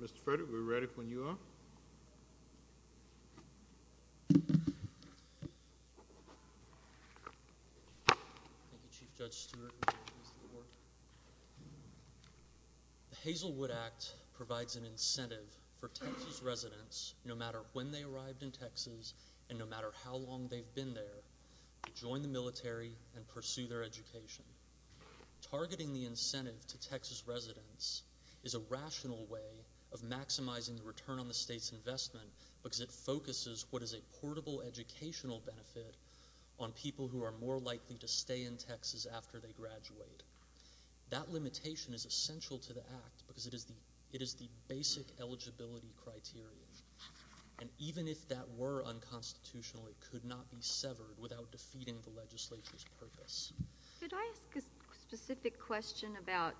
The Hazelwood Act provides an incentive for Texas residents, no matter when they arrived in Texas and no matter how long they've been there, to join the military and pursue their education. Targeting the incentive to Texas residents is a rational way of maximizing the return on the state's investment because it focuses what is a portable educational benefit on people who are more likely to stay in Texas after they graduate. That limitation is essential to the Act because it is the basic eligibility criteria. And even if that were unconstitutional, it could not be severed without defeating the legislature's purpose. Could I ask a specific question about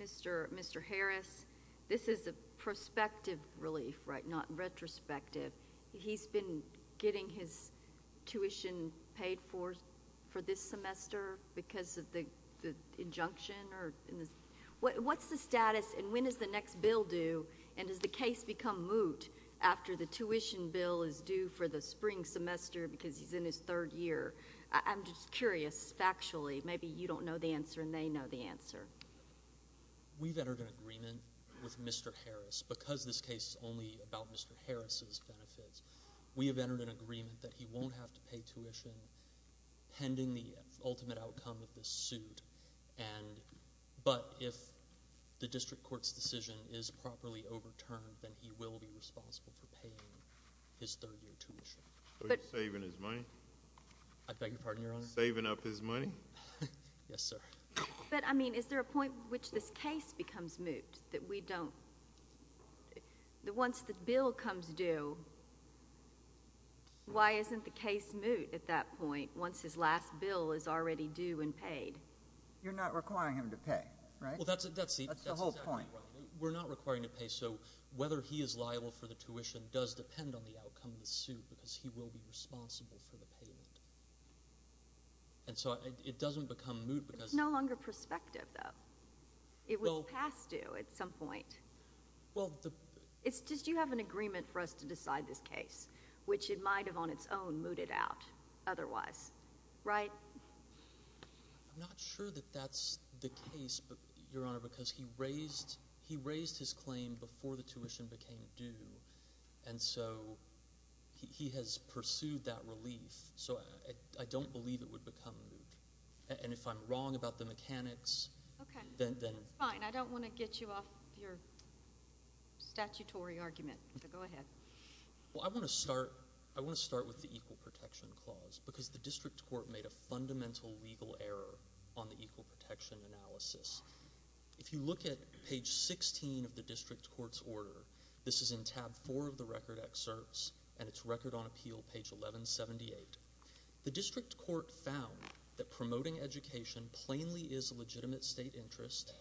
Mr. Harris? This is a prospective relief, right, not retrospective. He's been getting his tuition paid for this semester because of the injunction or what's the status and when does the next bill due and does the case become moot after the tuition bill is due for the spring semester because he's in his third year? I'm just curious factually. Maybe you don't know the answer and they know the answer. We've entered an agreement with Mr. Harris. Because this case is only about Mr. Harris's benefits, we have entered an agreement that he won't have to pay tuition pending the ultimate outcome of this suit. But if the district court's decision is properly overturned, then he will be responsible for paying his third year tuition. Are you saving his money? I beg your pardon, Your Honor? Saving up his money? Yes, sir. But, I mean, is there a point at which this case becomes moot that we don't, that once the bill comes due, why isn't the case moot at that point once his last bill is already due and paid? You're not requiring him to pay, right? Well, that's exactly right. We're not requiring him to pay, so whether he is liable for the tuition does depend on the outcome of the suit because he will be responsible for the payment. And so it doesn't become moot because... It's no longer prospective, though. It was past due at some point. Well, the... It's just you have an agreement for us to decide this case, which it might have on its own mooted out otherwise, right? I'm not sure that that's the case, Your Honor, because he raised his claim before the tuition became due, and so he has pursued that relief. So I don't believe it would become moot. And if I'm wrong about the mechanics, then... Okay, that's fine. I don't want to get you off your statutory argument. Go ahead. Well, I want to start with the Equal Protection Clause because the district court made a fundamental legal error on the equal protection analysis. If you look at page 16 of the district court's order, this is in tab 4 of the record excerpts, and it's Record on Appeal, page 1178. The district court found that promoting education plainly is a legitimate state interest,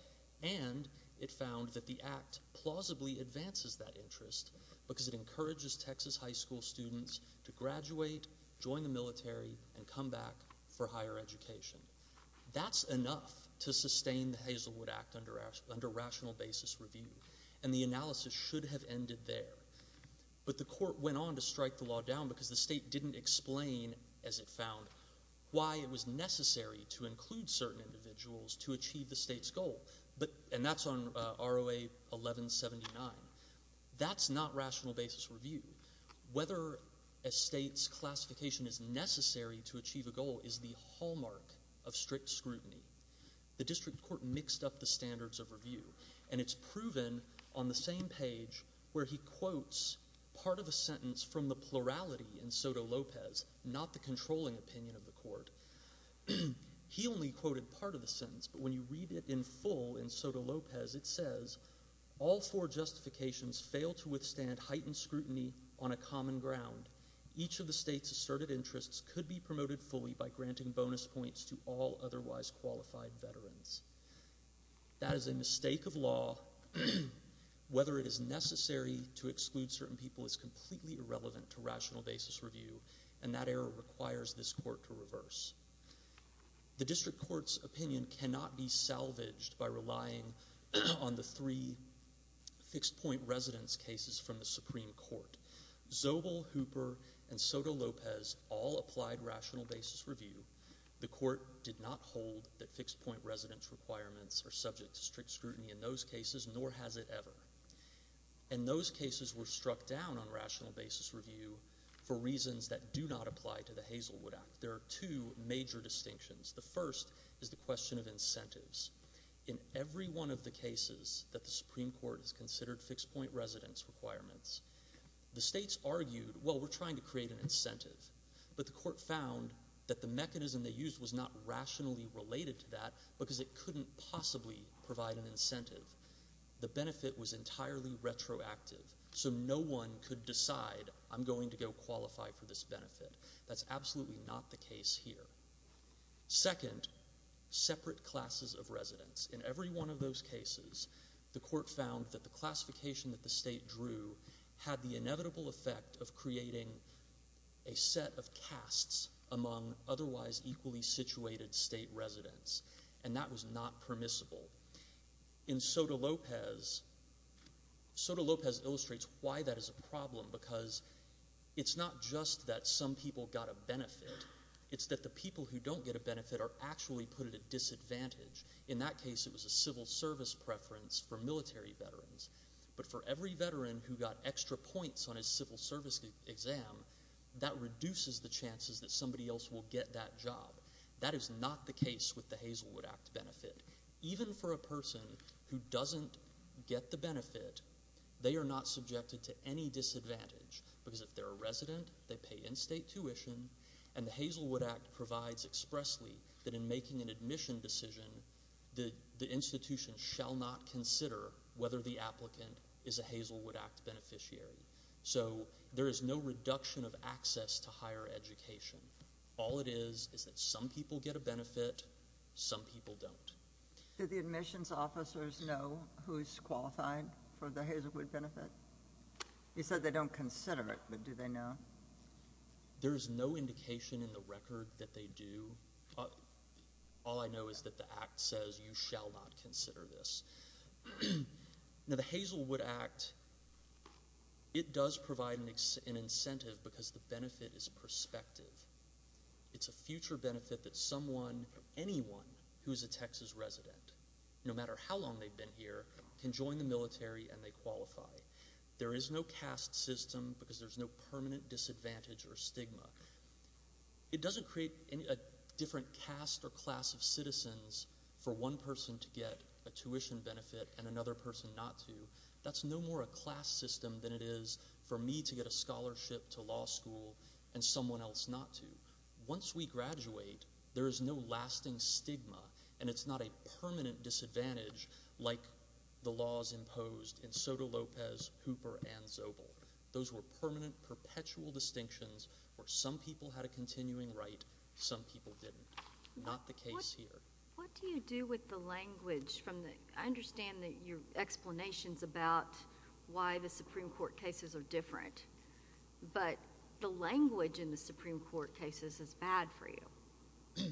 and it found that the act plausibly advances that interest because it encourages Texas high school students to graduate, join the military, and come back for higher education. That's enough to sustain the Hazelwood Act under rational basis review, and the analysis should have ended there. But the court went on to strike the law down because the state didn't explain, as it found, why it was necessary to include certain individuals to achieve the state's goal. And that's on ROA 1179. That's not rational basis review. Whether a state's classification is necessary to achieve a goal is the hallmark of strict scrutiny. The district court mixed up the standards of review, and it's proven on the same page where he quotes part of a sentence from the plurality in Soto Lopez, not the controlling opinion of the court. He only quoted part of the sentence, but when you read it in full in Soto Lopez, it says, all four justifications fail to withstand heightened scrutiny on a common ground. Each of the state's asserted interests could be promoted fully by granting bonus points to all otherwise qualified veterans. That is a mistake of law. Whether it is necessary to exclude certain people is completely irrelevant to rational basis review, and that error requires this court to reverse. The district court's opinion cannot be salvaged by relying on the three fixed-point residence cases from the Supreme Court. Zobel, Hooper, and Soto Lopez all applied rational basis review. The court did not hold that fixed-point residence requirements are subject to strict scrutiny in those cases, nor has it ever. And those cases were struck down on rational basis review for reasons that do not apply to the Hazelwood Act. There are two major distinctions. The first is the question of incentives. In every one of the cases that the Supreme Court has considered fixed-point residence requirements, the states argued, well, we're trying to create an incentive, but the court found that the mechanism they used was not rationally related to that because it couldn't possibly provide an incentive. The benefit was entirely retroactive, so no one could decide, I'm going to go qualify for this benefit. That's absolutely not the case here. Second, separate classes of residents. In every one of those cases, the court found that the classification that the state drew had the inevitable effect of creating a set of casts among otherwise equally situated state residents, and that was not permissible. In Soto Lopez, Soto Lopez illustrates why that is a problem because it's not just that some people got a benefit. It's that the people who don't get a benefit are actually put at a disadvantage. In that case, it was a civil service preference for military veterans. But for every veteran who got extra points on his civil service exam, that reduces the chances that somebody else will get that job. That is not the case with the Hazelwood Act benefit. Even for a person who doesn't get the benefit, they are not subjected to any disadvantage because if they're a resident, they pay in-state tuition, and the Hazelwood Act provides expressly that in making an admission decision, the institution shall not consider whether the applicant is a Hazelwood Act beneficiary. So, there is no reduction of access to higher education. All it is, is that some people get a benefit, some people don't. Do the admissions officers know who is qualified for the Hazelwood benefit? You said they don't consider it, but do they know? There is no indication in the record that they do. All I know is that the Act says you shall not consider this. Now, the Hazelwood Act, it does provide an incentive because the benefit is perspective. It's a future benefit that someone, anyone who is a Texas resident, no matter how long they've been here, can join the military and they qualify. There is no caste system because there's no permanent disadvantage or stigma. It doesn't create a different caste or class of citizens for one person to get a tuition benefit and another person not to. That's no more a class system than it is for me to get a scholarship to law school and someone else not to. Once we graduate, there is no lasting stigma and it's not a permanent disadvantage like the laws imposed in Soto Lopez, Hooper, and Zobel. Those were permanent, perpetual distinctions where some people had a continuing right, some people didn't. Not the case here. What do you do with the language? I understand your explanations about why the Supreme Court cases are different, but the language in the Supreme Court cases is bad for you.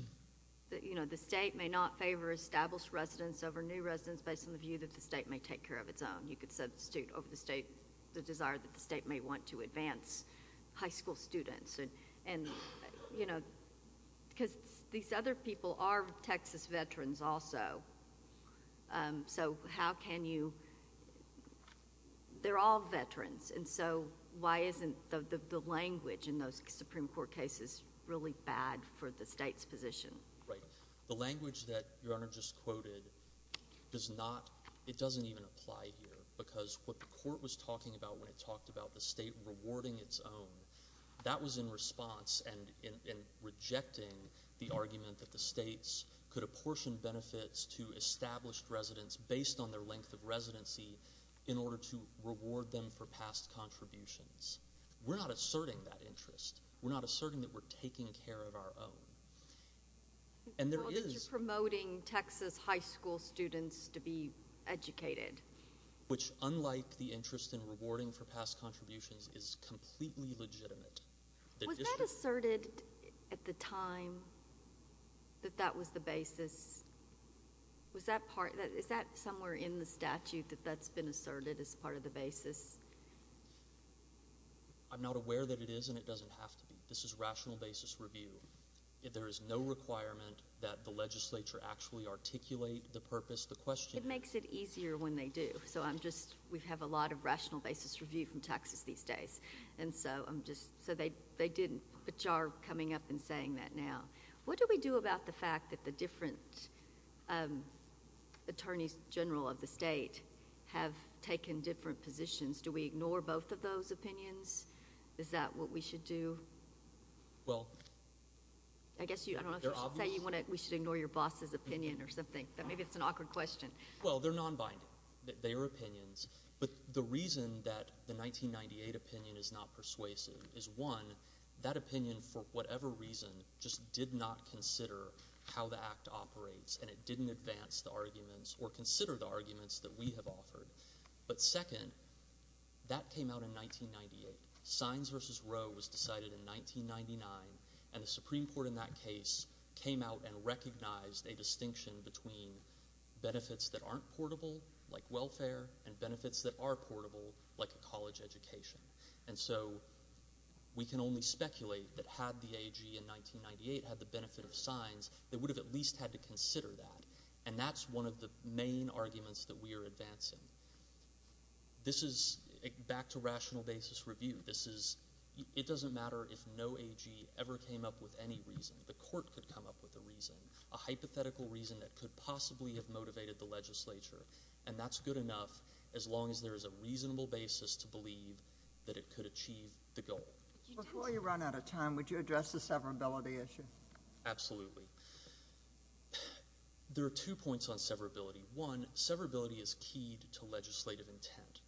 The state may not favor established residents over new residents based on the view that the state may take care of its own. You could substitute over the desire that the state may want to take care of its own students. These other people are Texas veterans also. They're all veterans. Why isn't the language in those Supreme Court cases really bad for the state's position? Right. The language that Your Honor just quoted, it doesn't even apply here because what the that was in response and in rejecting the argument that the states could apportion benefits to established residents based on their length of residency in order to reward them for past contributions. We're not asserting that interest. We're not asserting that we're taking care of our own. Well, that you're promoting Texas high school students to be educated. Which unlike the interest in rewarding for past contributions is completely legitimate. Was that asserted at the time that that was the basis? Is that somewhere in the statute that that's been asserted as part of the basis? I'm not aware that it is and it doesn't have to be. This is rational basis review. There is no requirement that the legislature actually articulate the purpose, the question. It makes it easier when they do. We have a lot of rational basis review from Texas these days. They didn't, but you are coming up and saying that now. What do we do about the fact that the different attorneys general of the state have taken different positions? Do we ignore both of those opinions? Is that what we should do? Well, they're obvious. We should ignore your boss's opinion or something. Maybe it's an awkward question. Well, they're non-binding. They are opinions. But the reason that the 1998 opinion is not persuasive is one, that opinion for whatever reason just did not consider how the act operates and it didn't advance the arguments or consider the arguments that we have offered. But second, that came out in 1998. Sines versus Roe was decided in 1999 and the Supreme Court in that case came out and recognized a distinction between benefits that aren't portable, like welfare, and benefits that are portable, like a college education. And so we can only speculate that had the AG in 1998 had the benefit of Sines, they would have at least had to consider that. And that's one of the main arguments that we are advancing. This is back to rational basis review. It doesn't matter if no AG ever came up with any reason. The court could come up with a reason, a hypothetical reason that could possibly have motivated the legislature. And that's good enough as long as there is a reasonable basis to believe that it could achieve the goal. Before you run out of time, would you address the severability issue? Absolutely. There are two points on severability. One, severability is keyed to legislative intent.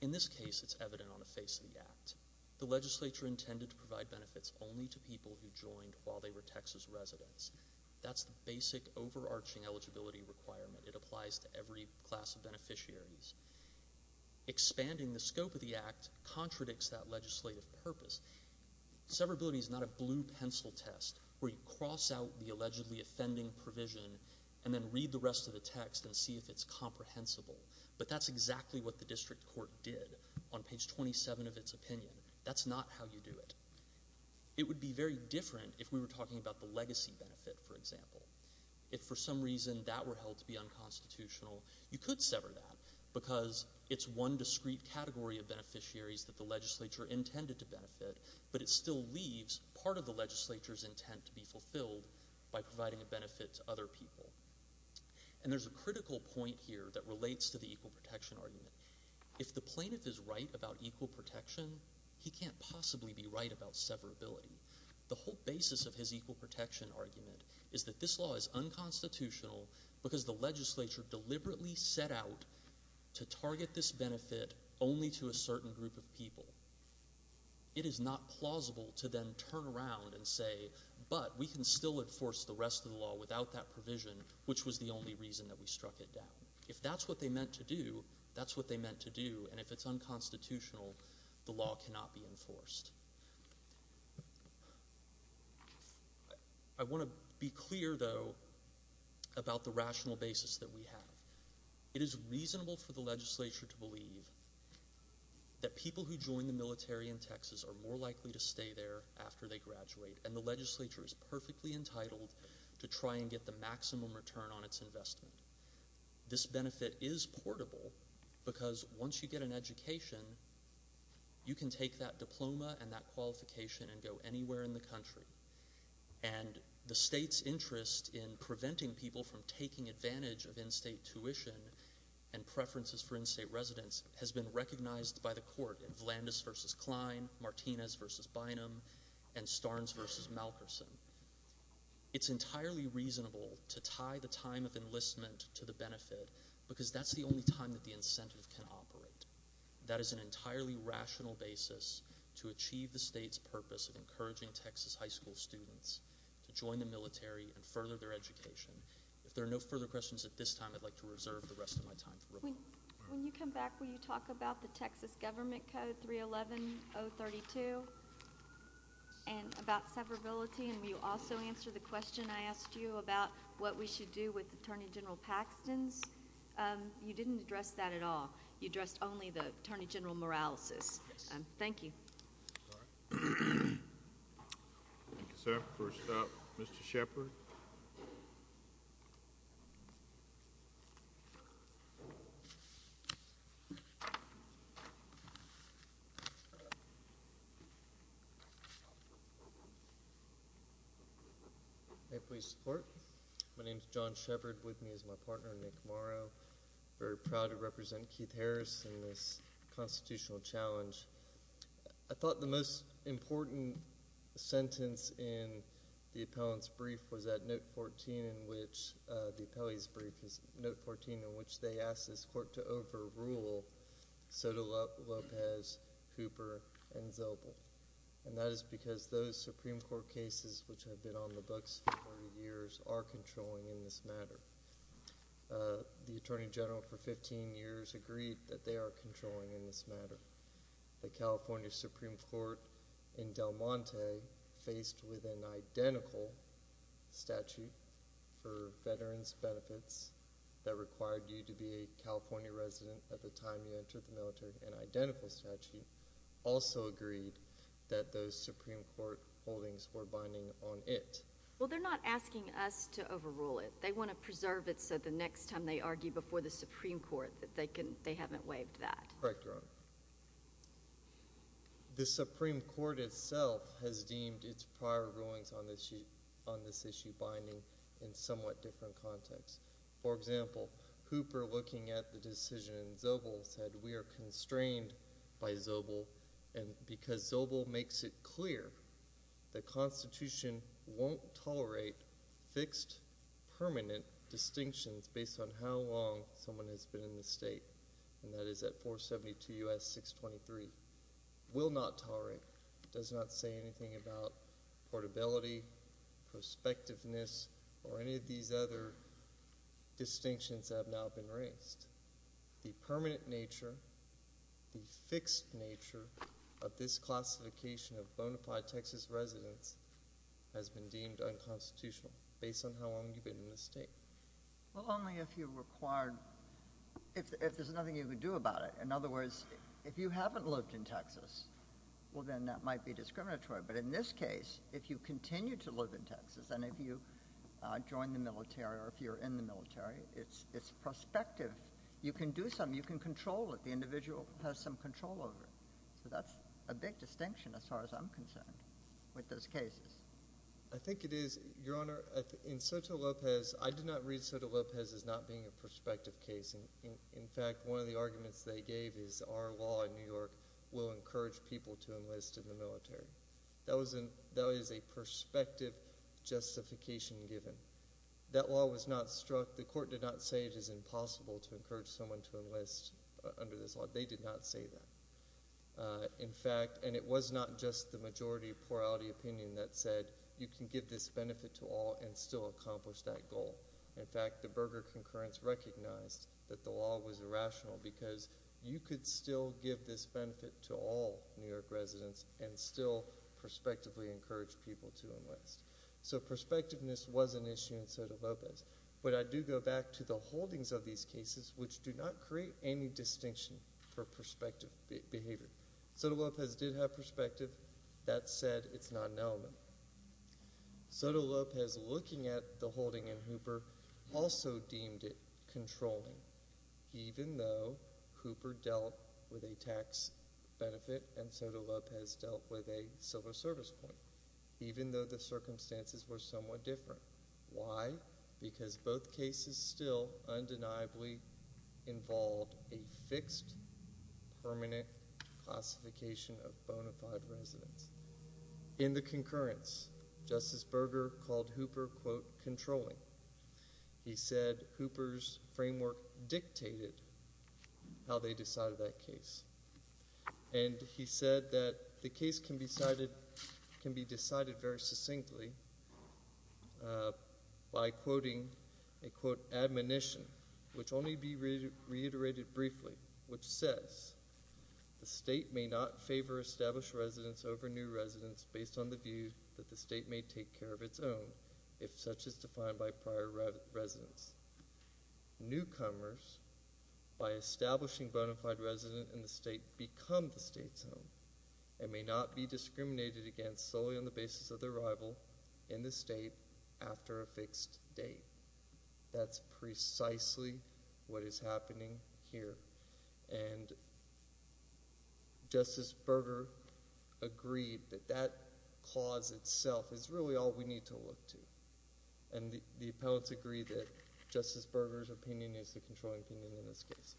In this case, it's evident on the face of the act. The legislature intended to provide benefits only to people who joined while they were Texas residents. That's the basic overarching eligibility requirement. It applies to every class of beneficiaries. Expanding the scope of the act contradicts that legislative purpose. Severability is not a blue pencil test where you cross out the allegedly offending provision and then read the rest of the text and see if it's comprehensible. But that's exactly what the It would be very different if we were talking about the legacy benefit, for example. If for some reason that were held to be unconstitutional, you could sever that because it's one discrete category of beneficiaries that the legislature intended to benefit, but it still leaves part of the legislature's intent to be fulfilled by providing a benefit to other people. And there's a critical point here that relates to the equal protection argument. If the plaintiff is right about equal protection, he can't possibly be right about severability. The whole basis of his equal protection argument is that this law is unconstitutional because the legislature deliberately set out to target this benefit only to a certain group of people. It is not plausible to then turn around and say, but we can still enforce the rest of the law without that provision, which was the only reason that we struck it down. If that's what they meant to do, that's what they meant to do, and if it's unconstitutional, the law cannot be enforced. I want to be clear, though, about the rational basis that we have. It is reasonable for the legislature to believe that people who join the military in Texas are more likely to stay there after they graduate, and the legislature is perfectly entitled to try and get the maximum return on its investment. This benefit is portable because once you get an education, you can take that diploma and that qualification and go anywhere in the country. And the state's interest in preventing people from taking advantage of in-state tuition and preferences for in-state residents has been recognized by the court in Vlandis v. Klein, Martinez v. Bynum, and Starnes v. Malkerson. It's entirely reasonable to tie the time of enlistment to the benefit because that's the only time that the incentive can operate. That is an entirely rational basis to achieve the state's purpose of encouraging Texas high school students to join the military and further their education. If there are no further questions at this time, I'd like to reserve the rest of my time. When you come back, will you talk about the Texas Government Code 311.032 and about severability? And will you also answer the question I asked you about what we should do with Attorney General Paxton's? You didn't address that at all. You addressed only the Attorney General Moralysis. Thank you. Thank you, sir. First up, Mr. Shepard. May it please the court. My name is John Shepard. With me is my partner, Nick Morrow. I'm very proud to represent Keith Harris in this constitutional challenge. I thought the most important sentence in the appellant's brief was at note 14 in which the appellee's court to overrule Soto Lopez, Hooper, and Zobel. And that is because those Supreme Court cases which have been on the books for years are controlling in this matter. The Attorney General for 15 years agreed that they are controlling in this matter. The California Supreme Court in Del Monte faced with an identical statute for veterans' benefits that required you to be a California resident at the time you entered the military, an identical statute, also agreed that those Supreme Court holdings were binding on it. Well, they're not asking us to overrule it. They want to preserve it so the next time they argue before the Supreme Court that they haven't waived that. Correct, Your Honor. The Supreme Court itself has deemed its prior rulings on this issue binding in somewhat different contexts. For example, Hooper looking at the decision in Zobel said we are constrained by Zobel because Zobel makes it clear the Constitution won't tolerate fixed permanent distinctions based on how long someone has been in the state. And that is at 472 U.S. 623. Will not tolerate. Does not say anything about portability, prospectiveness, or any of these other distinctions that have now been raised. The permanent nature, the fixed nature of this classification of bona fide Texas residents has been deemed unconstitutional based on how long you've been in the state. Well, only if you required, if there's nothing you can do about it. In other words, if you haven't lived in Texas, well, then that might be discriminatory. But in this case, if you continue to live in Texas, and if you join the military or if you're in the military, it's prospective. You can do something. You can control it. The individual has some control over it. So that's a big distinction as far as I'm concerned with those cases. I think it is, Your Honor. In Soto Lopez, I did not read Soto Lopez as not being a prospective case. In fact, one of the arguments they gave is our law in New York will encourage people to enlist in the military. That is a prospective justification given. That law was not struck, the court did not say it is impossible to encourage someone to enlist under this law. They did not say that. In fact, and it was not just the majority of plurality opinion that said you can give this benefit to all and still accomplish that goal. In fact, the Berger concurrence recognized that the law was irrational because you could still give this benefit to all New York residents and still prospectively encourage people to enlist. So prospectiveness was an issue in Soto Lopez. But I do go back to the holdings of these cases, which do not create any distinction for prospective behavior. Soto Lopez did have perspective. That said, it's not an element. Soto Lopez, looking at the holding in Hooper, also deemed it controlling, even though Hooper dealt with a tax benefit and Soto Lopez dealt with a civil service point, even though the circumstances were somewhat different. Why? Because both cases still undeniably involved a fixed, permanent classification of bona fide, quote, controlling. He said Hooper's framework dictated how they decided that case. And he said that the case can be decided very succinctly by quoting, quote, admonition, which only be reiterated briefly, which says, the state may not favor established residents over new residents based on the view that the state may take care of its own, if such is defined by prior residents. Newcomers, by establishing bona fide residents in the state, become the state's home and may not be discriminated against solely on the basis of their rival in the state after a fixed date. That's precisely what is happening here. And Justice Berger agreed that that clause itself is really all we need to look to. And the appellants agree that Justice Berger's opinion is the controlling opinion in this case.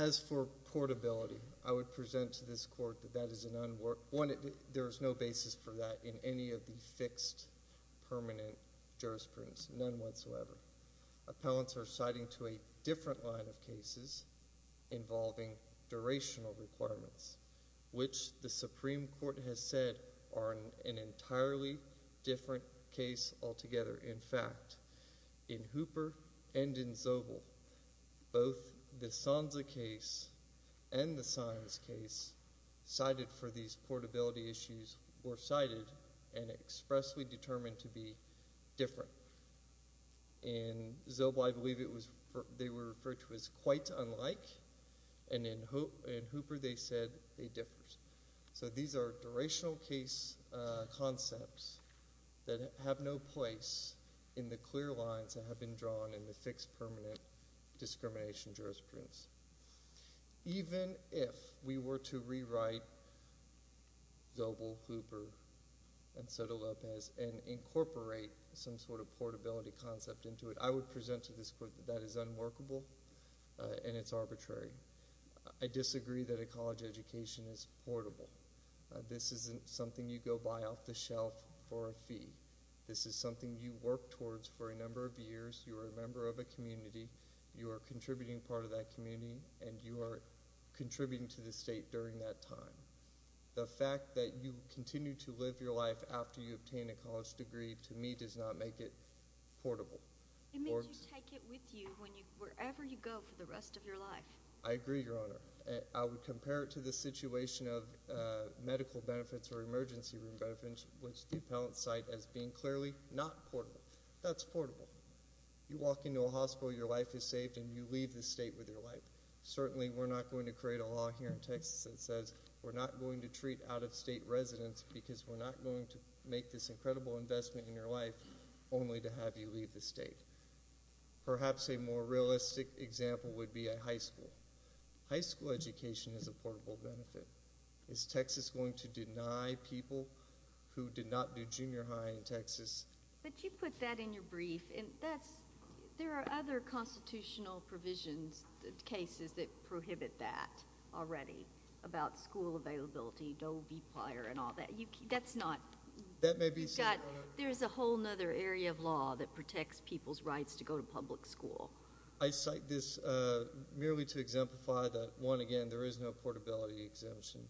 As for portability, I would present to this court that that is an unworked, one, there is no basis for that in any of the fixed, permanent jurisprudence, none whatsoever. Appellants are citing to a different line of cases involving durational requirements, which the Supreme Court has said are an entirely different case altogether. In fact, in Hooper and in Zobel, both the Sanza case and the Saenz case cited for these portability issues were cited and expressly determined to be quite unlike, and in Hooper they said they differed. So these are durational case concepts that have no place in the clear lines that have been drawn in the fixed, permanent discrimination jurisprudence. Even if we were to rewrite Zobel, Hooper, and Soto Lopez and incorporate some sort of portability concept into it, I would present to this court that that is unworkable and it's arbitrary. I disagree that a college education is portable. This isn't something you go buy off the shelf for a fee. This is something you work towards for a number of years, you are a member of a community, you are contributing part of that community, and you are contributing to the state during that time. The fact that you continue to live your life after you obtain a college degree, to me, does not make it portable. It means you take it with you wherever you go for the rest of your life. I agree, Your Honor. I would compare it to the situation of medical benefits or emergency room benefits, which the appellants cite as being clearly not portable. That's portable. You walk into a hospital, your life is saved, and you leave the state with your life. Certainly we're not going to create a law here in Texas that says we're not going to treat out-of-state residents because we're not going to make this incredible investment in your life only to have you leave the state. Perhaps a more realistic example would be a high school. High school education is a portable benefit. Is Texas going to deny people who did not do junior high in Texas? But you put that in your brief. There are other constitutional provisions, cases that prohibit that already about school availability, Doe v. Plyer, and all that. That's not... That may be... There's a whole other area of law that protects people's rights to go to public school. I cite this merely to exemplify that, one, again, there is no portability exemption.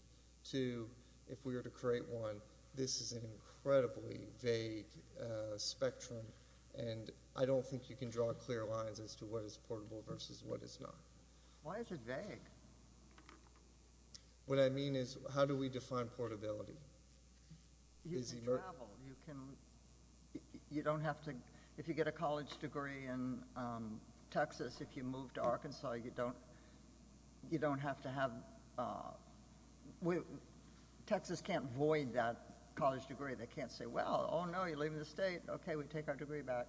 Two, if we were to create one, this is an incredibly vague spectrum, and I don't think you can draw clear lines as to what is portable versus what is not. Why is it vague? What I mean is, how do we define portability? You can travel. You don't have to... If you get a college degree in Texas, if you move to Arkansas, you don't have to have... Texas can't void that college degree. They can't say, well, oh, no, you're leaving the state. Okay, we take our degree back.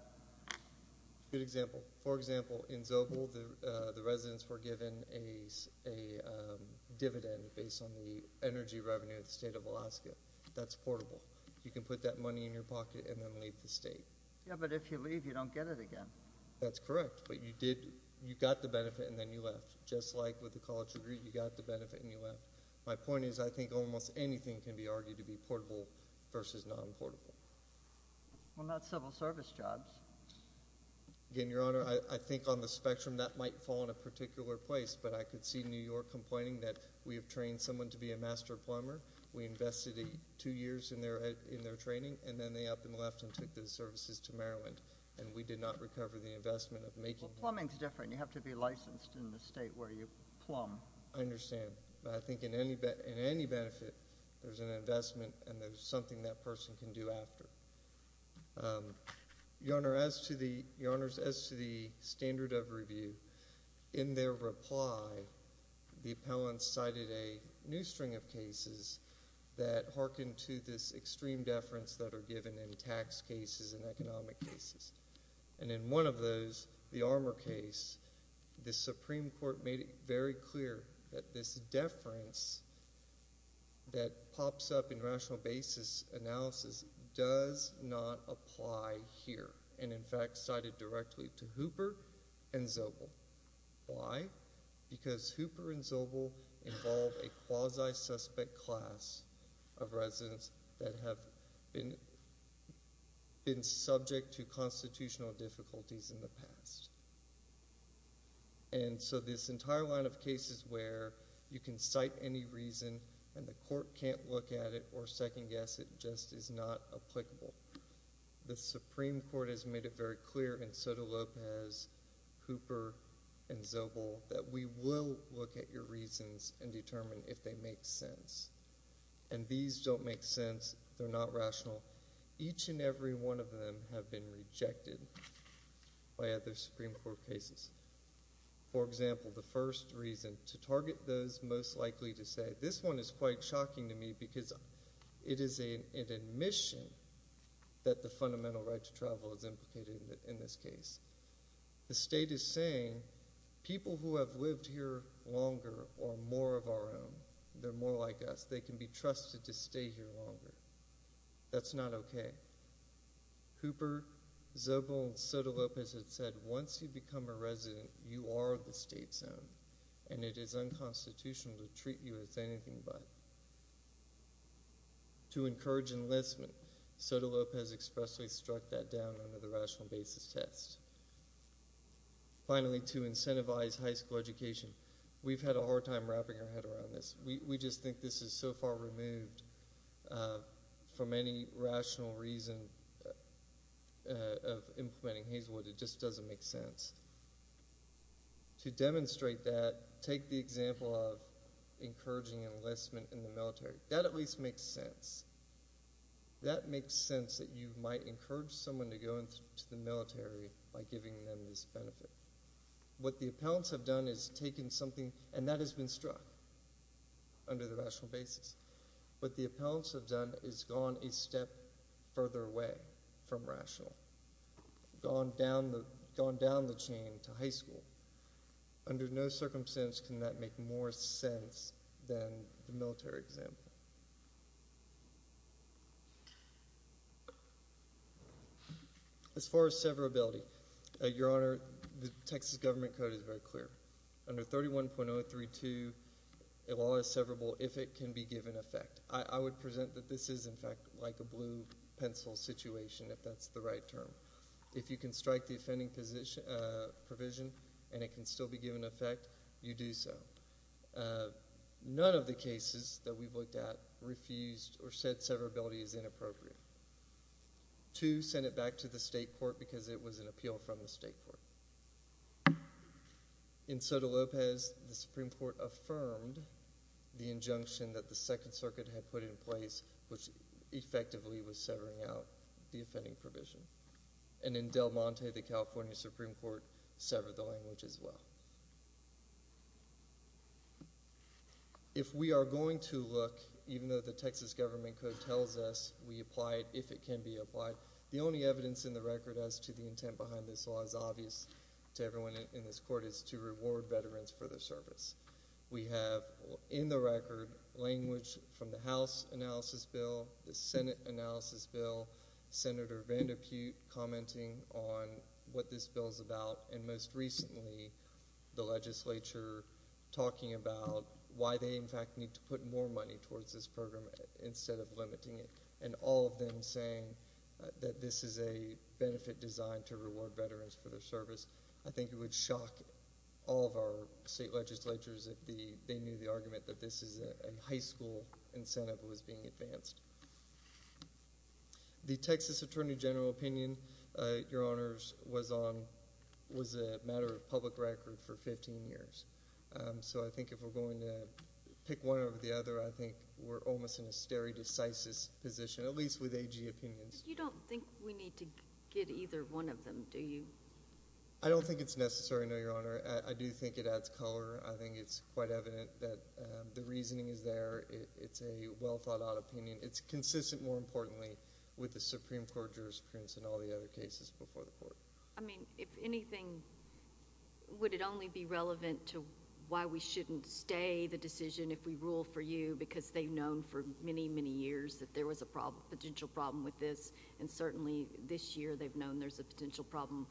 Good example. For example, in Zobel, the residents were given a dividend based on the energy revenue of the state of Alaska. That's portable. You can put that money in your pocket and then leave the state. Yeah, but if you leave, you don't get it again. That's correct, but you did... You got the benefit and then you left. Just like with the college degree, you got the benefit and you left. My point is, I think almost anything can be argued to be portable versus non-portable. Well, not civil service jobs. Again, Your Honor, I think on the spectrum, that might fall in a particular place, but I could see New York complaining that we have trained someone to be a master plumber. We invested two years in their training and then they up and left and took the services to Maryland and we did not recover the investment of making... Well, plumbing's different. You have to be licensed in the state where you plumb. I understand, but I think in any benefit, there's an investment and there's something that person can do after Your Honor, as to the standard of review, in their reply, the appellant cited a new string of cases that hearken to this extreme deference that are given in tax cases and economic cases. And in one of those, the Armour case, the Supreme Court made it very clear that this deference that pops up in rational basis analysis does not apply here. And in fact, cited directly to Hooper and Zobel. Why? Because Hooper and Zobel involve a quasi suspect class of residents that have been subject to constitutional difficulties in the past. And so this entire line of cases where you can cite any reason and the court can't look at it or second guess it just is not applicable. The Supreme Court has made it very clear, and so do Lopez, Hooper, and Zobel, that we will look at your reasons and determine if they make sense. And these don't make sense. They're not rational. Each and every one of them have been rejected by other Supreme Court cases. For example, the first reason to target those most likely to say, this one is quite shocking to me because it is an admission that the fundamental right to travel is implicated in this case. The state is saying, people who have lived here longer are more of our own. They're more like us. They can be trusted to stay here longer. That's not okay. Hooper, Zobel, and Soto-Lopez have said, once you become a resident, you are the state's own. And it is unconstitutional to treat you as anything but. To encourage enlistment, Soto-Lopez expressly struck that down under the rational basis test. Finally, to incentivize high school education. We've had a hard time wrapping our head around this. We just think this is so far removed from any rational reason of implementing Hazelwood. It just doesn't make sense. To demonstrate that, take the example of encouraging enlistment in the military. That at least makes sense. That makes sense that you might encourage someone to go into the military by giving them this benefit. What the appellants have done is taken something, and that has been struck under the rational basis. What the appellants have done is gone a step further away from rational. Gone down the chain to high school. Under no circumstance can that Texas government code is very clear. Under 31.032, a law is severable if it can be given effect. I would present that this is, in fact, like a blue pencil situation, if that's the right term. If you can strike the offending provision and it can still be given effect, you do so. None of the cases that we've looked at refused or said severability is inappropriate. Two, sent it back to the state court because it was an appeal from the state court. In Soto Lopez, the Supreme Court affirmed the injunction that the Second Circuit had put in place, which effectively was severing out the offending provision. And in Del Monte, the California Supreme Court severed the language as well. If we are going to look, even though the Texas government code tells us we apply it if it can be applied, the only evidence in the record as to the intent behind this law is obvious to everyone in this court, is to reward veterans for their service. We have, in the record, language from the House analysis bill, the Senate analysis bill, Senator Vandepute commenting on what this bill is about, and most recently, the legislature talking about why they, in fact, need to put more money towards this program instead of limiting it, and all of them saying that this is a benefit designed to reward veterans for their service. I think it would shock all of our state legislatures if they knew the argument that this is a high school incentive that was being advanced. The Texas Attorney General opinion, Your Honors, was a matter of public record for 15 years. So I think if we're going to pick one over the other, I think we're almost in a stare decisis position, at least with AG opinions. But you don't think we need to get either one of them, do you? I don't think it's necessary, no, Your Honor. I do think it adds color. I think it's quite evident that the reasoning is there. It's a well-thought-out opinion. It's consistent, more importantly, with the Supreme Court jurisprudence and all the other cases before the court. I mean, if anything, would it only be relevant to why we shouldn't stay the decision if we rule for you, because they've known for many, many years that there was a potential problem with this, and certainly this year they've known there's a potential problem,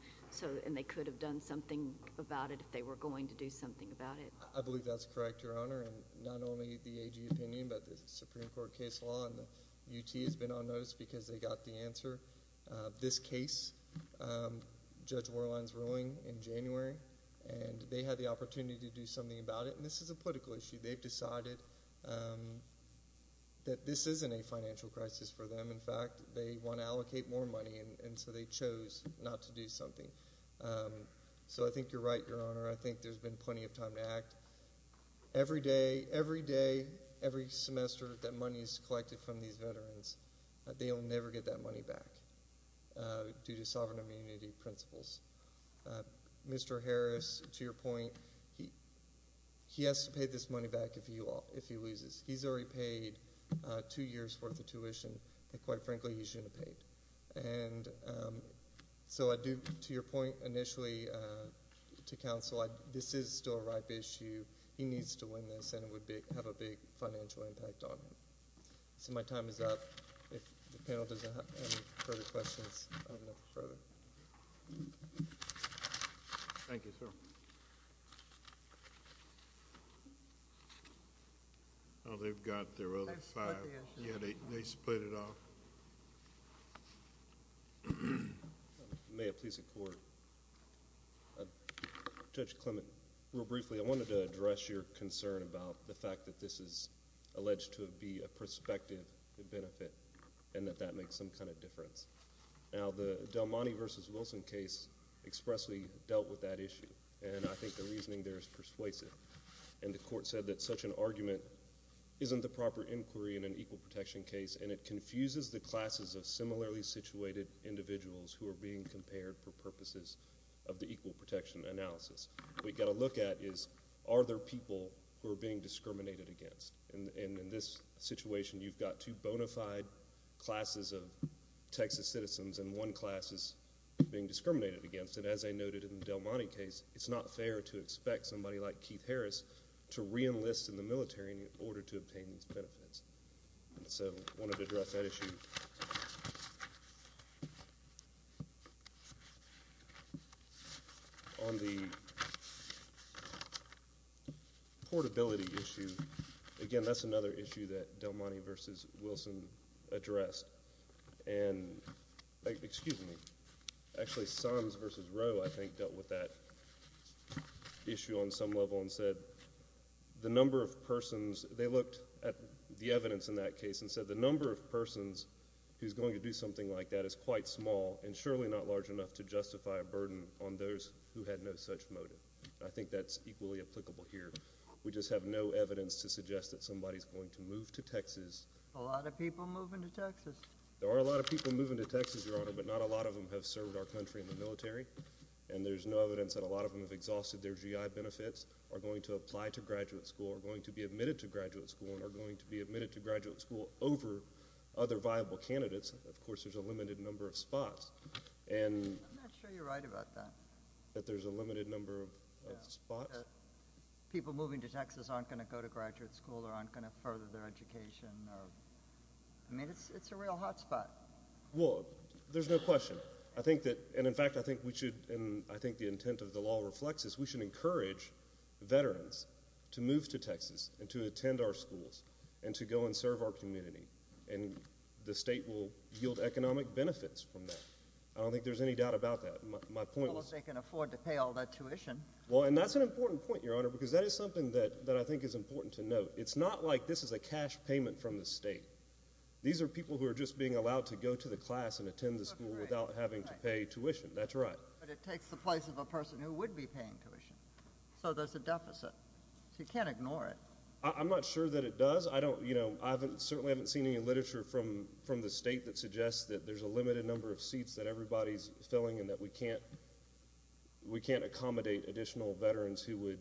and they could have done something about it if they were going to do something about it. I believe that's correct, Your Honor. And not only the AG opinion, but the Supreme Court case law and the UT has been on notice because they got the answer. This case, Judge Warline is ruling in January, and they had the opportunity to do something about it, and this is a political issue. They've decided that this isn't a financial crisis for them. In fact, they want to allocate more money, and so they chose not to do something. So I think you're right, Your Honor. I think there's been plenty of time to act. Every day, every semester that money is collected from these veterans, they'll never get that money back due to sovereign immunity principles. Mr. Harris, to your point, he has to pay this money back if he loses. He's already paid two years' worth of tuition that, quite frankly, he shouldn't have paid. And so I do, to your point initially to counsel, this is still a ripe issue. He needs to win this, and it would have a big financial impact on him. So my time is up. If the panel doesn't have any further questions, I have enough for further. Thank you, sir. Oh, they've got their other five. Yeah, they split it off. May it please the Court. Judge Clement, real briefly, I wanted to address your concern about the fact that this is alleged to be a prospective benefit and that that makes some kind of difference. Now, the Del Monte v. Wilson case expressly dealt with that issue, and I think the reasoning there is persuasive. And the Court said that such an argument isn't the proper inquiry in an equal protection case, and it confuses the classes of similarly situated individuals who are being compared for purposes of the equal protection analysis. What you've got to look at is, are there people who are being discriminated against? And in this situation, you've got two bona fide classes of Texas citizens and one class is being discriminated against. And as I noted in the Del Monte case, it's not fair to expect somebody like Keith Harris to reenlist in the military in order to obtain these benefits. And so I wanted to address that issue. On the portability issue, again, that's another issue that Del Monte v. Wilson addressed. And, excuse me, actually, Sons v. Rowe, I think, dealt with that issue on some level and said the number of persons, they looked at the evidence in that case and said the number of persons who's going to do something like that is quite small and surely not large enough to justify a burden on those who had no such motive. I think that's equally applicable here. We just have no evidence to suggest that somebody's going to move to Texas. A lot of people moving to Texas. There are a lot of people moving to Texas, Your Honor, but not a lot of them have served our country in the military. And there's no evidence that a lot of them have exhausted their GI benefits, are going to apply to graduate school, are going to be admitted to graduate school, and are going to be admitted to graduate school over other viable candidates. Of course, there's a limited number of spots. I'm not sure you're right about that. That there's a limited number of spots. People moving to Texas aren't going to go to graduate school or aren't going to further their education. I mean, it's a real hot spot. Well, there's no question. I think that, and in fact, I think we should, and I think the intent of the law reflects this, we should encourage veterans to move to Texas and to attend our schools and to go and serve our community. And the state will yield economic benefits from that. I don't think there's any doubt about that. Well, if they can afford to pay all that tuition. Well, and that's an important point, Your Honor, because that is something that I think is important to note. It's not like this is a cash payment from the state. These are people who are just being allowed to go to the class and attend the school without having to pay tuition. That's right. But it takes the place of a person who would be paying tuition. So there's a deficit. You can't ignore it. I'm not sure that it does. I don't, you know, I certainly haven't seen any literature from the state that suggests that there's a limited number of seats that everybody's filling and that we can't accommodate additional veterans who would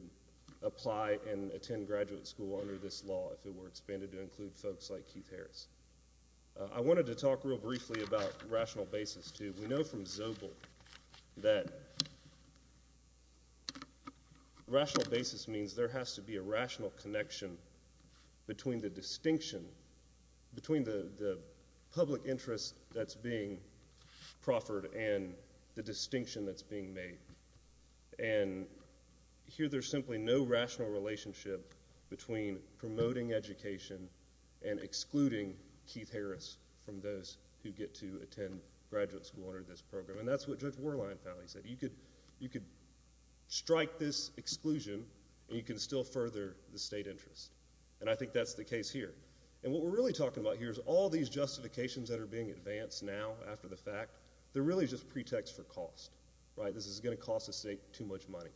apply and attend graduate school under this law if it were expanded to include folks like Keith Harris. I wanted to talk real briefly about rational basis, too. We know from Zobel that rational basis means there has to be a rational connection between the distinction, between the public distinction that's being made. And here there's simply no rational relationship between promoting education and excluding Keith Harris from those who get to attend graduate school under this program. And that's what Judge Warline finally said. You could strike this exclusion and you can still further the state interest. And I think that's the case here. And what we're really talking about here is all these justifications that are being advanced now after the fact. They're really just pretexts for cost, right? This is going to cost the state too much money.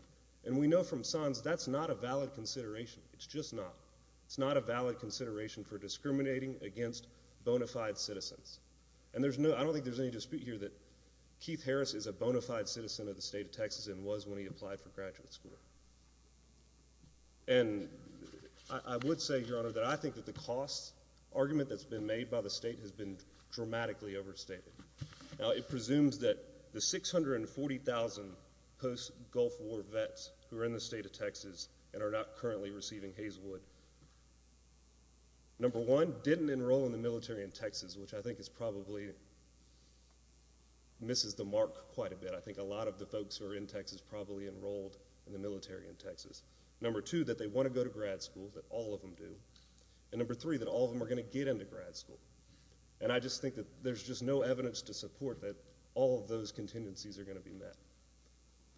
And we know from Sons that's not a valid consideration. It's just not. It's not a valid consideration for discriminating against bona fide citizens. And I don't think there's any dispute here that Keith Harris is a bona fide citizen of the state of Texas and was when he applied for graduate school. And I would say, Your Honor, that I think that the cost argument that's been made by the Now it presumes that the 640,000 post-Gulf War vets who are in the state of Texas and are not currently receiving Hayeswood, number one, didn't enroll in the military in Texas, which I think is probably, misses the mark quite a bit. I think a lot of the folks who are in Texas probably enrolled in the military in Texas. Number two, that they want to go to grad school, that all of them do. And number three, that all of them are going to get into grad school. And I just think that there's just no evidence to support that all of those contingencies are going to be met.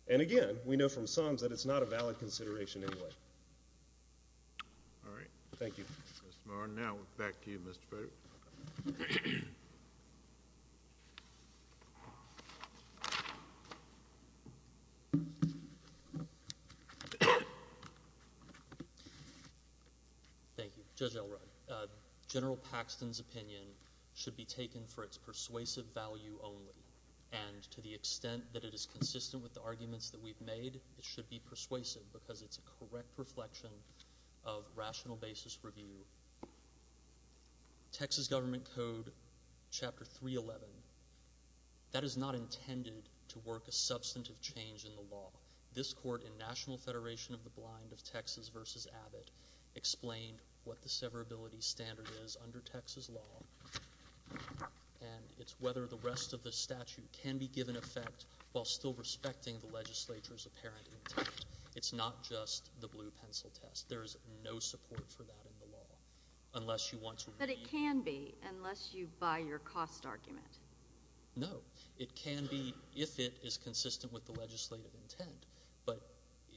And again, we know from Sons that it's not a valid consideration anyway. All right. Thank you. Mr. Marr, now back to you, Mr. Federer. Thank you. Judge Elrod, General Paxton's opinion should be taken for its persuasive value only. And to the extent that it is consistent with the arguments that we've made, it should be persuasive because it's a correct reflection of rational basis review. Texas Government Code, Chapter 311, that is not intended to work a substantive change in the law. This court in National Federation of the Blind of Texas v. Abbott explained what the severability standard is under Texas law. And it's whether the rest of the statute can be given effect while still respecting the legislature's apparent intent. It's not just the blue pencil test. There is no support for that in the law unless you want to read it. But it can be unless you buy your cost argument. No. It can be if it is consistent with the legislative intent. But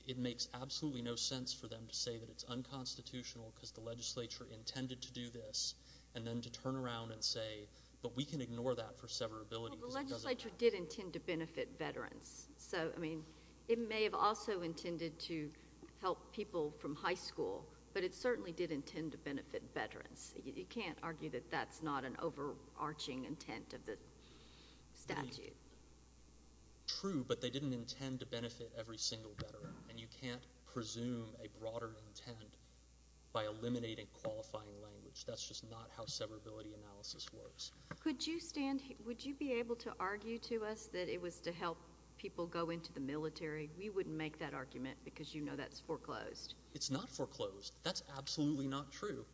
it makes absolutely no sense for them to say that it's unconstitutional because the legislature intended to do this and then to turn around and say, but we can ignore that for severability because it doesn't work. Well, the legislature did intend to benefit veterans. So, I mean, it may have also intended to help people from high school, but it certainly did intend to benefit veterans. You can't argue that that's not an overarching intent of the statute. True, but they didn't intend to benefit every single veteran. And you can't presume a broader intent by eliminating qualifying language. That's just not how severability analysis works. Would you be able to argue to us that it was to help people go into the military? We wouldn't make that argument because you know that's foreclosed. It's not foreclosed. That's absolutely not true.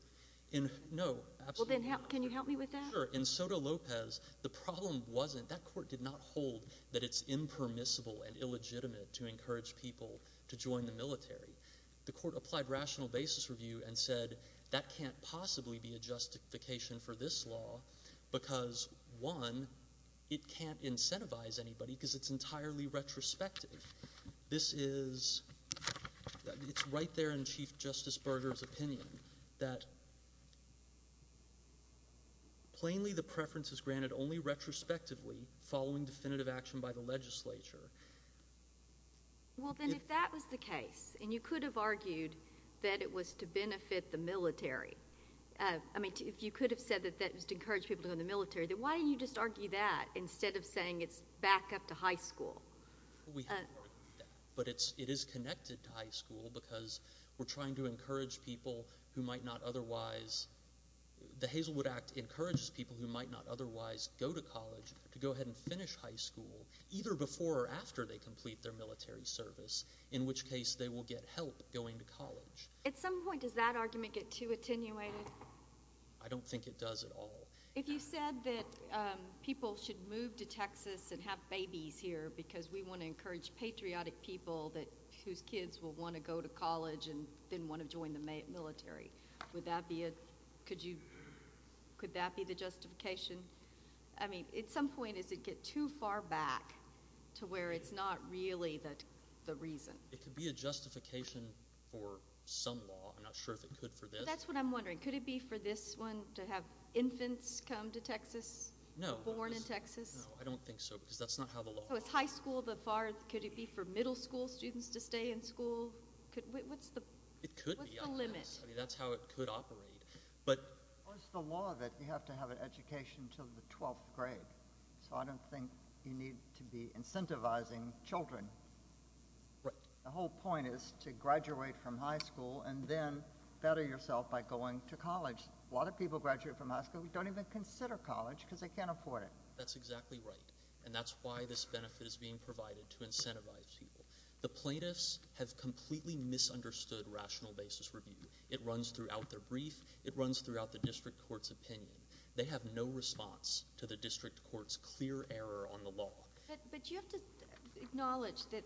Well, then can you help me with that? Sure. In Soto Lopez, the problem wasn't that court did not hold that it's impermissible and illegitimate to encourage people to join the military. The court applied rational basis review and said that can't possibly be a justification for this law, because, one, it can't incentivize anybody because it's entirely retrospective. This is right there in Chief Justice Berger's opinion, that plainly the preference is granted only retrospectively following definitive action by the legislature. Well, then if that was the case, and you could have argued that it was to benefit the military, I mean if you could have said that that was to encourage people to go into the military, then why didn't you just argue that instead of saying it's back up to high school? We have argued that, but it is connected to high school because we're trying to encourage people who might not otherwise go to college to go ahead and finish high school either before or after they complete their military service, in which case they will get help going to college. At some point does that argument get too attenuated? I don't think it does at all. If you said that people should move to Texas and have babies here because we want to encourage patriotic people whose kids will want to go to college and then want to join the military, could that be the justification? I mean at some point does it get too far back to where it's not really the reason? It could be a justification for some law. I'm not sure if it could for this. That's what I'm wondering. Could it be for this one to have infants come to Texas, born in Texas? No, I don't think so because that's not how the law works. So it's high school but could it be for middle school students to stay in school? It could be. What's the limit? I mean that's how it could operate. It's the law that you have to have an education until the 12th grade, so I don't think you need to be incentivizing children. The whole point is to graduate from high school and then better yourself by going to college. A lot of people graduate from high school who don't even consider college because they can't afford it. That's exactly right, and that's why this benefit is being provided to incentivize people. The plaintiffs have completely misunderstood rational basis review. It runs throughout their brief. It runs throughout the district court's opinion. They have no response to the district court's clear error on the law. But you have to acknowledge that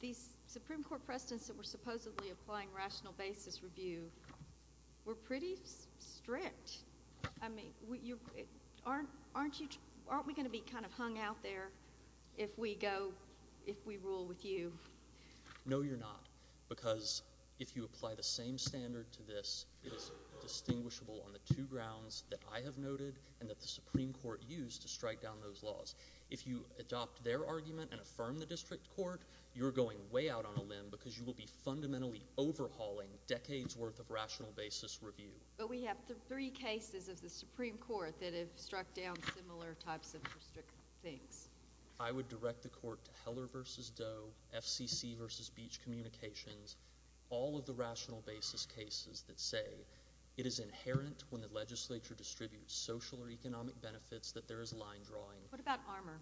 these Supreme Court precedents that were supposedly applying rational basis review were pretty strict. Aren't we going to be kind of hung out there if we rule with you? No, you're not because if you apply the same standard to this, it is distinguishable on the two grounds that I have noted and that the Supreme Court used to strike down those laws. If you adopt their argument and affirm the district court, you're going way out on a limb because you will be fundamentally overhauling decades' worth of rational basis review. But we have three cases of the Supreme Court that have struck down similar types of things. I would direct the court to Heller v. Doe, FCC v. Beach Communications, all of the rational basis cases that say it is inherent when the legislature distributes social or economic benefits that there is a line drawing. What about Armour?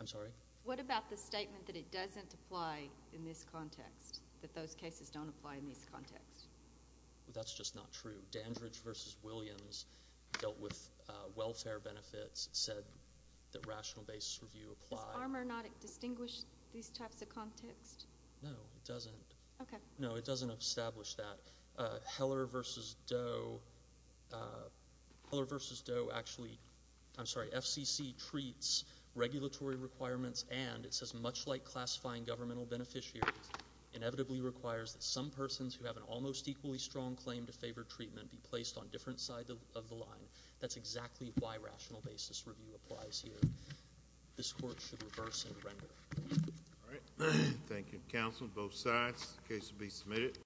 I'm sorry? What about the statement that it doesn't apply in this context, that those cases don't apply in this context? That's just not true. Dandridge v. Williams dealt with welfare benefits. It said that rational basis review applied. Does Armour not distinguish these types of contexts? No, it doesn't. Okay. No, it doesn't establish that. Heller v. Doe actually, I'm sorry, FCC treats regulatory requirements and it says much like classifying governmental beneficiaries, inevitably requires that some persons who have an almost equally strong claim to favor treatment be placed on different sides of the line. That's exactly why rational basis review applies here. This court should reverse and render. All right. Thank you, counsel, both sides. The case will be submitted.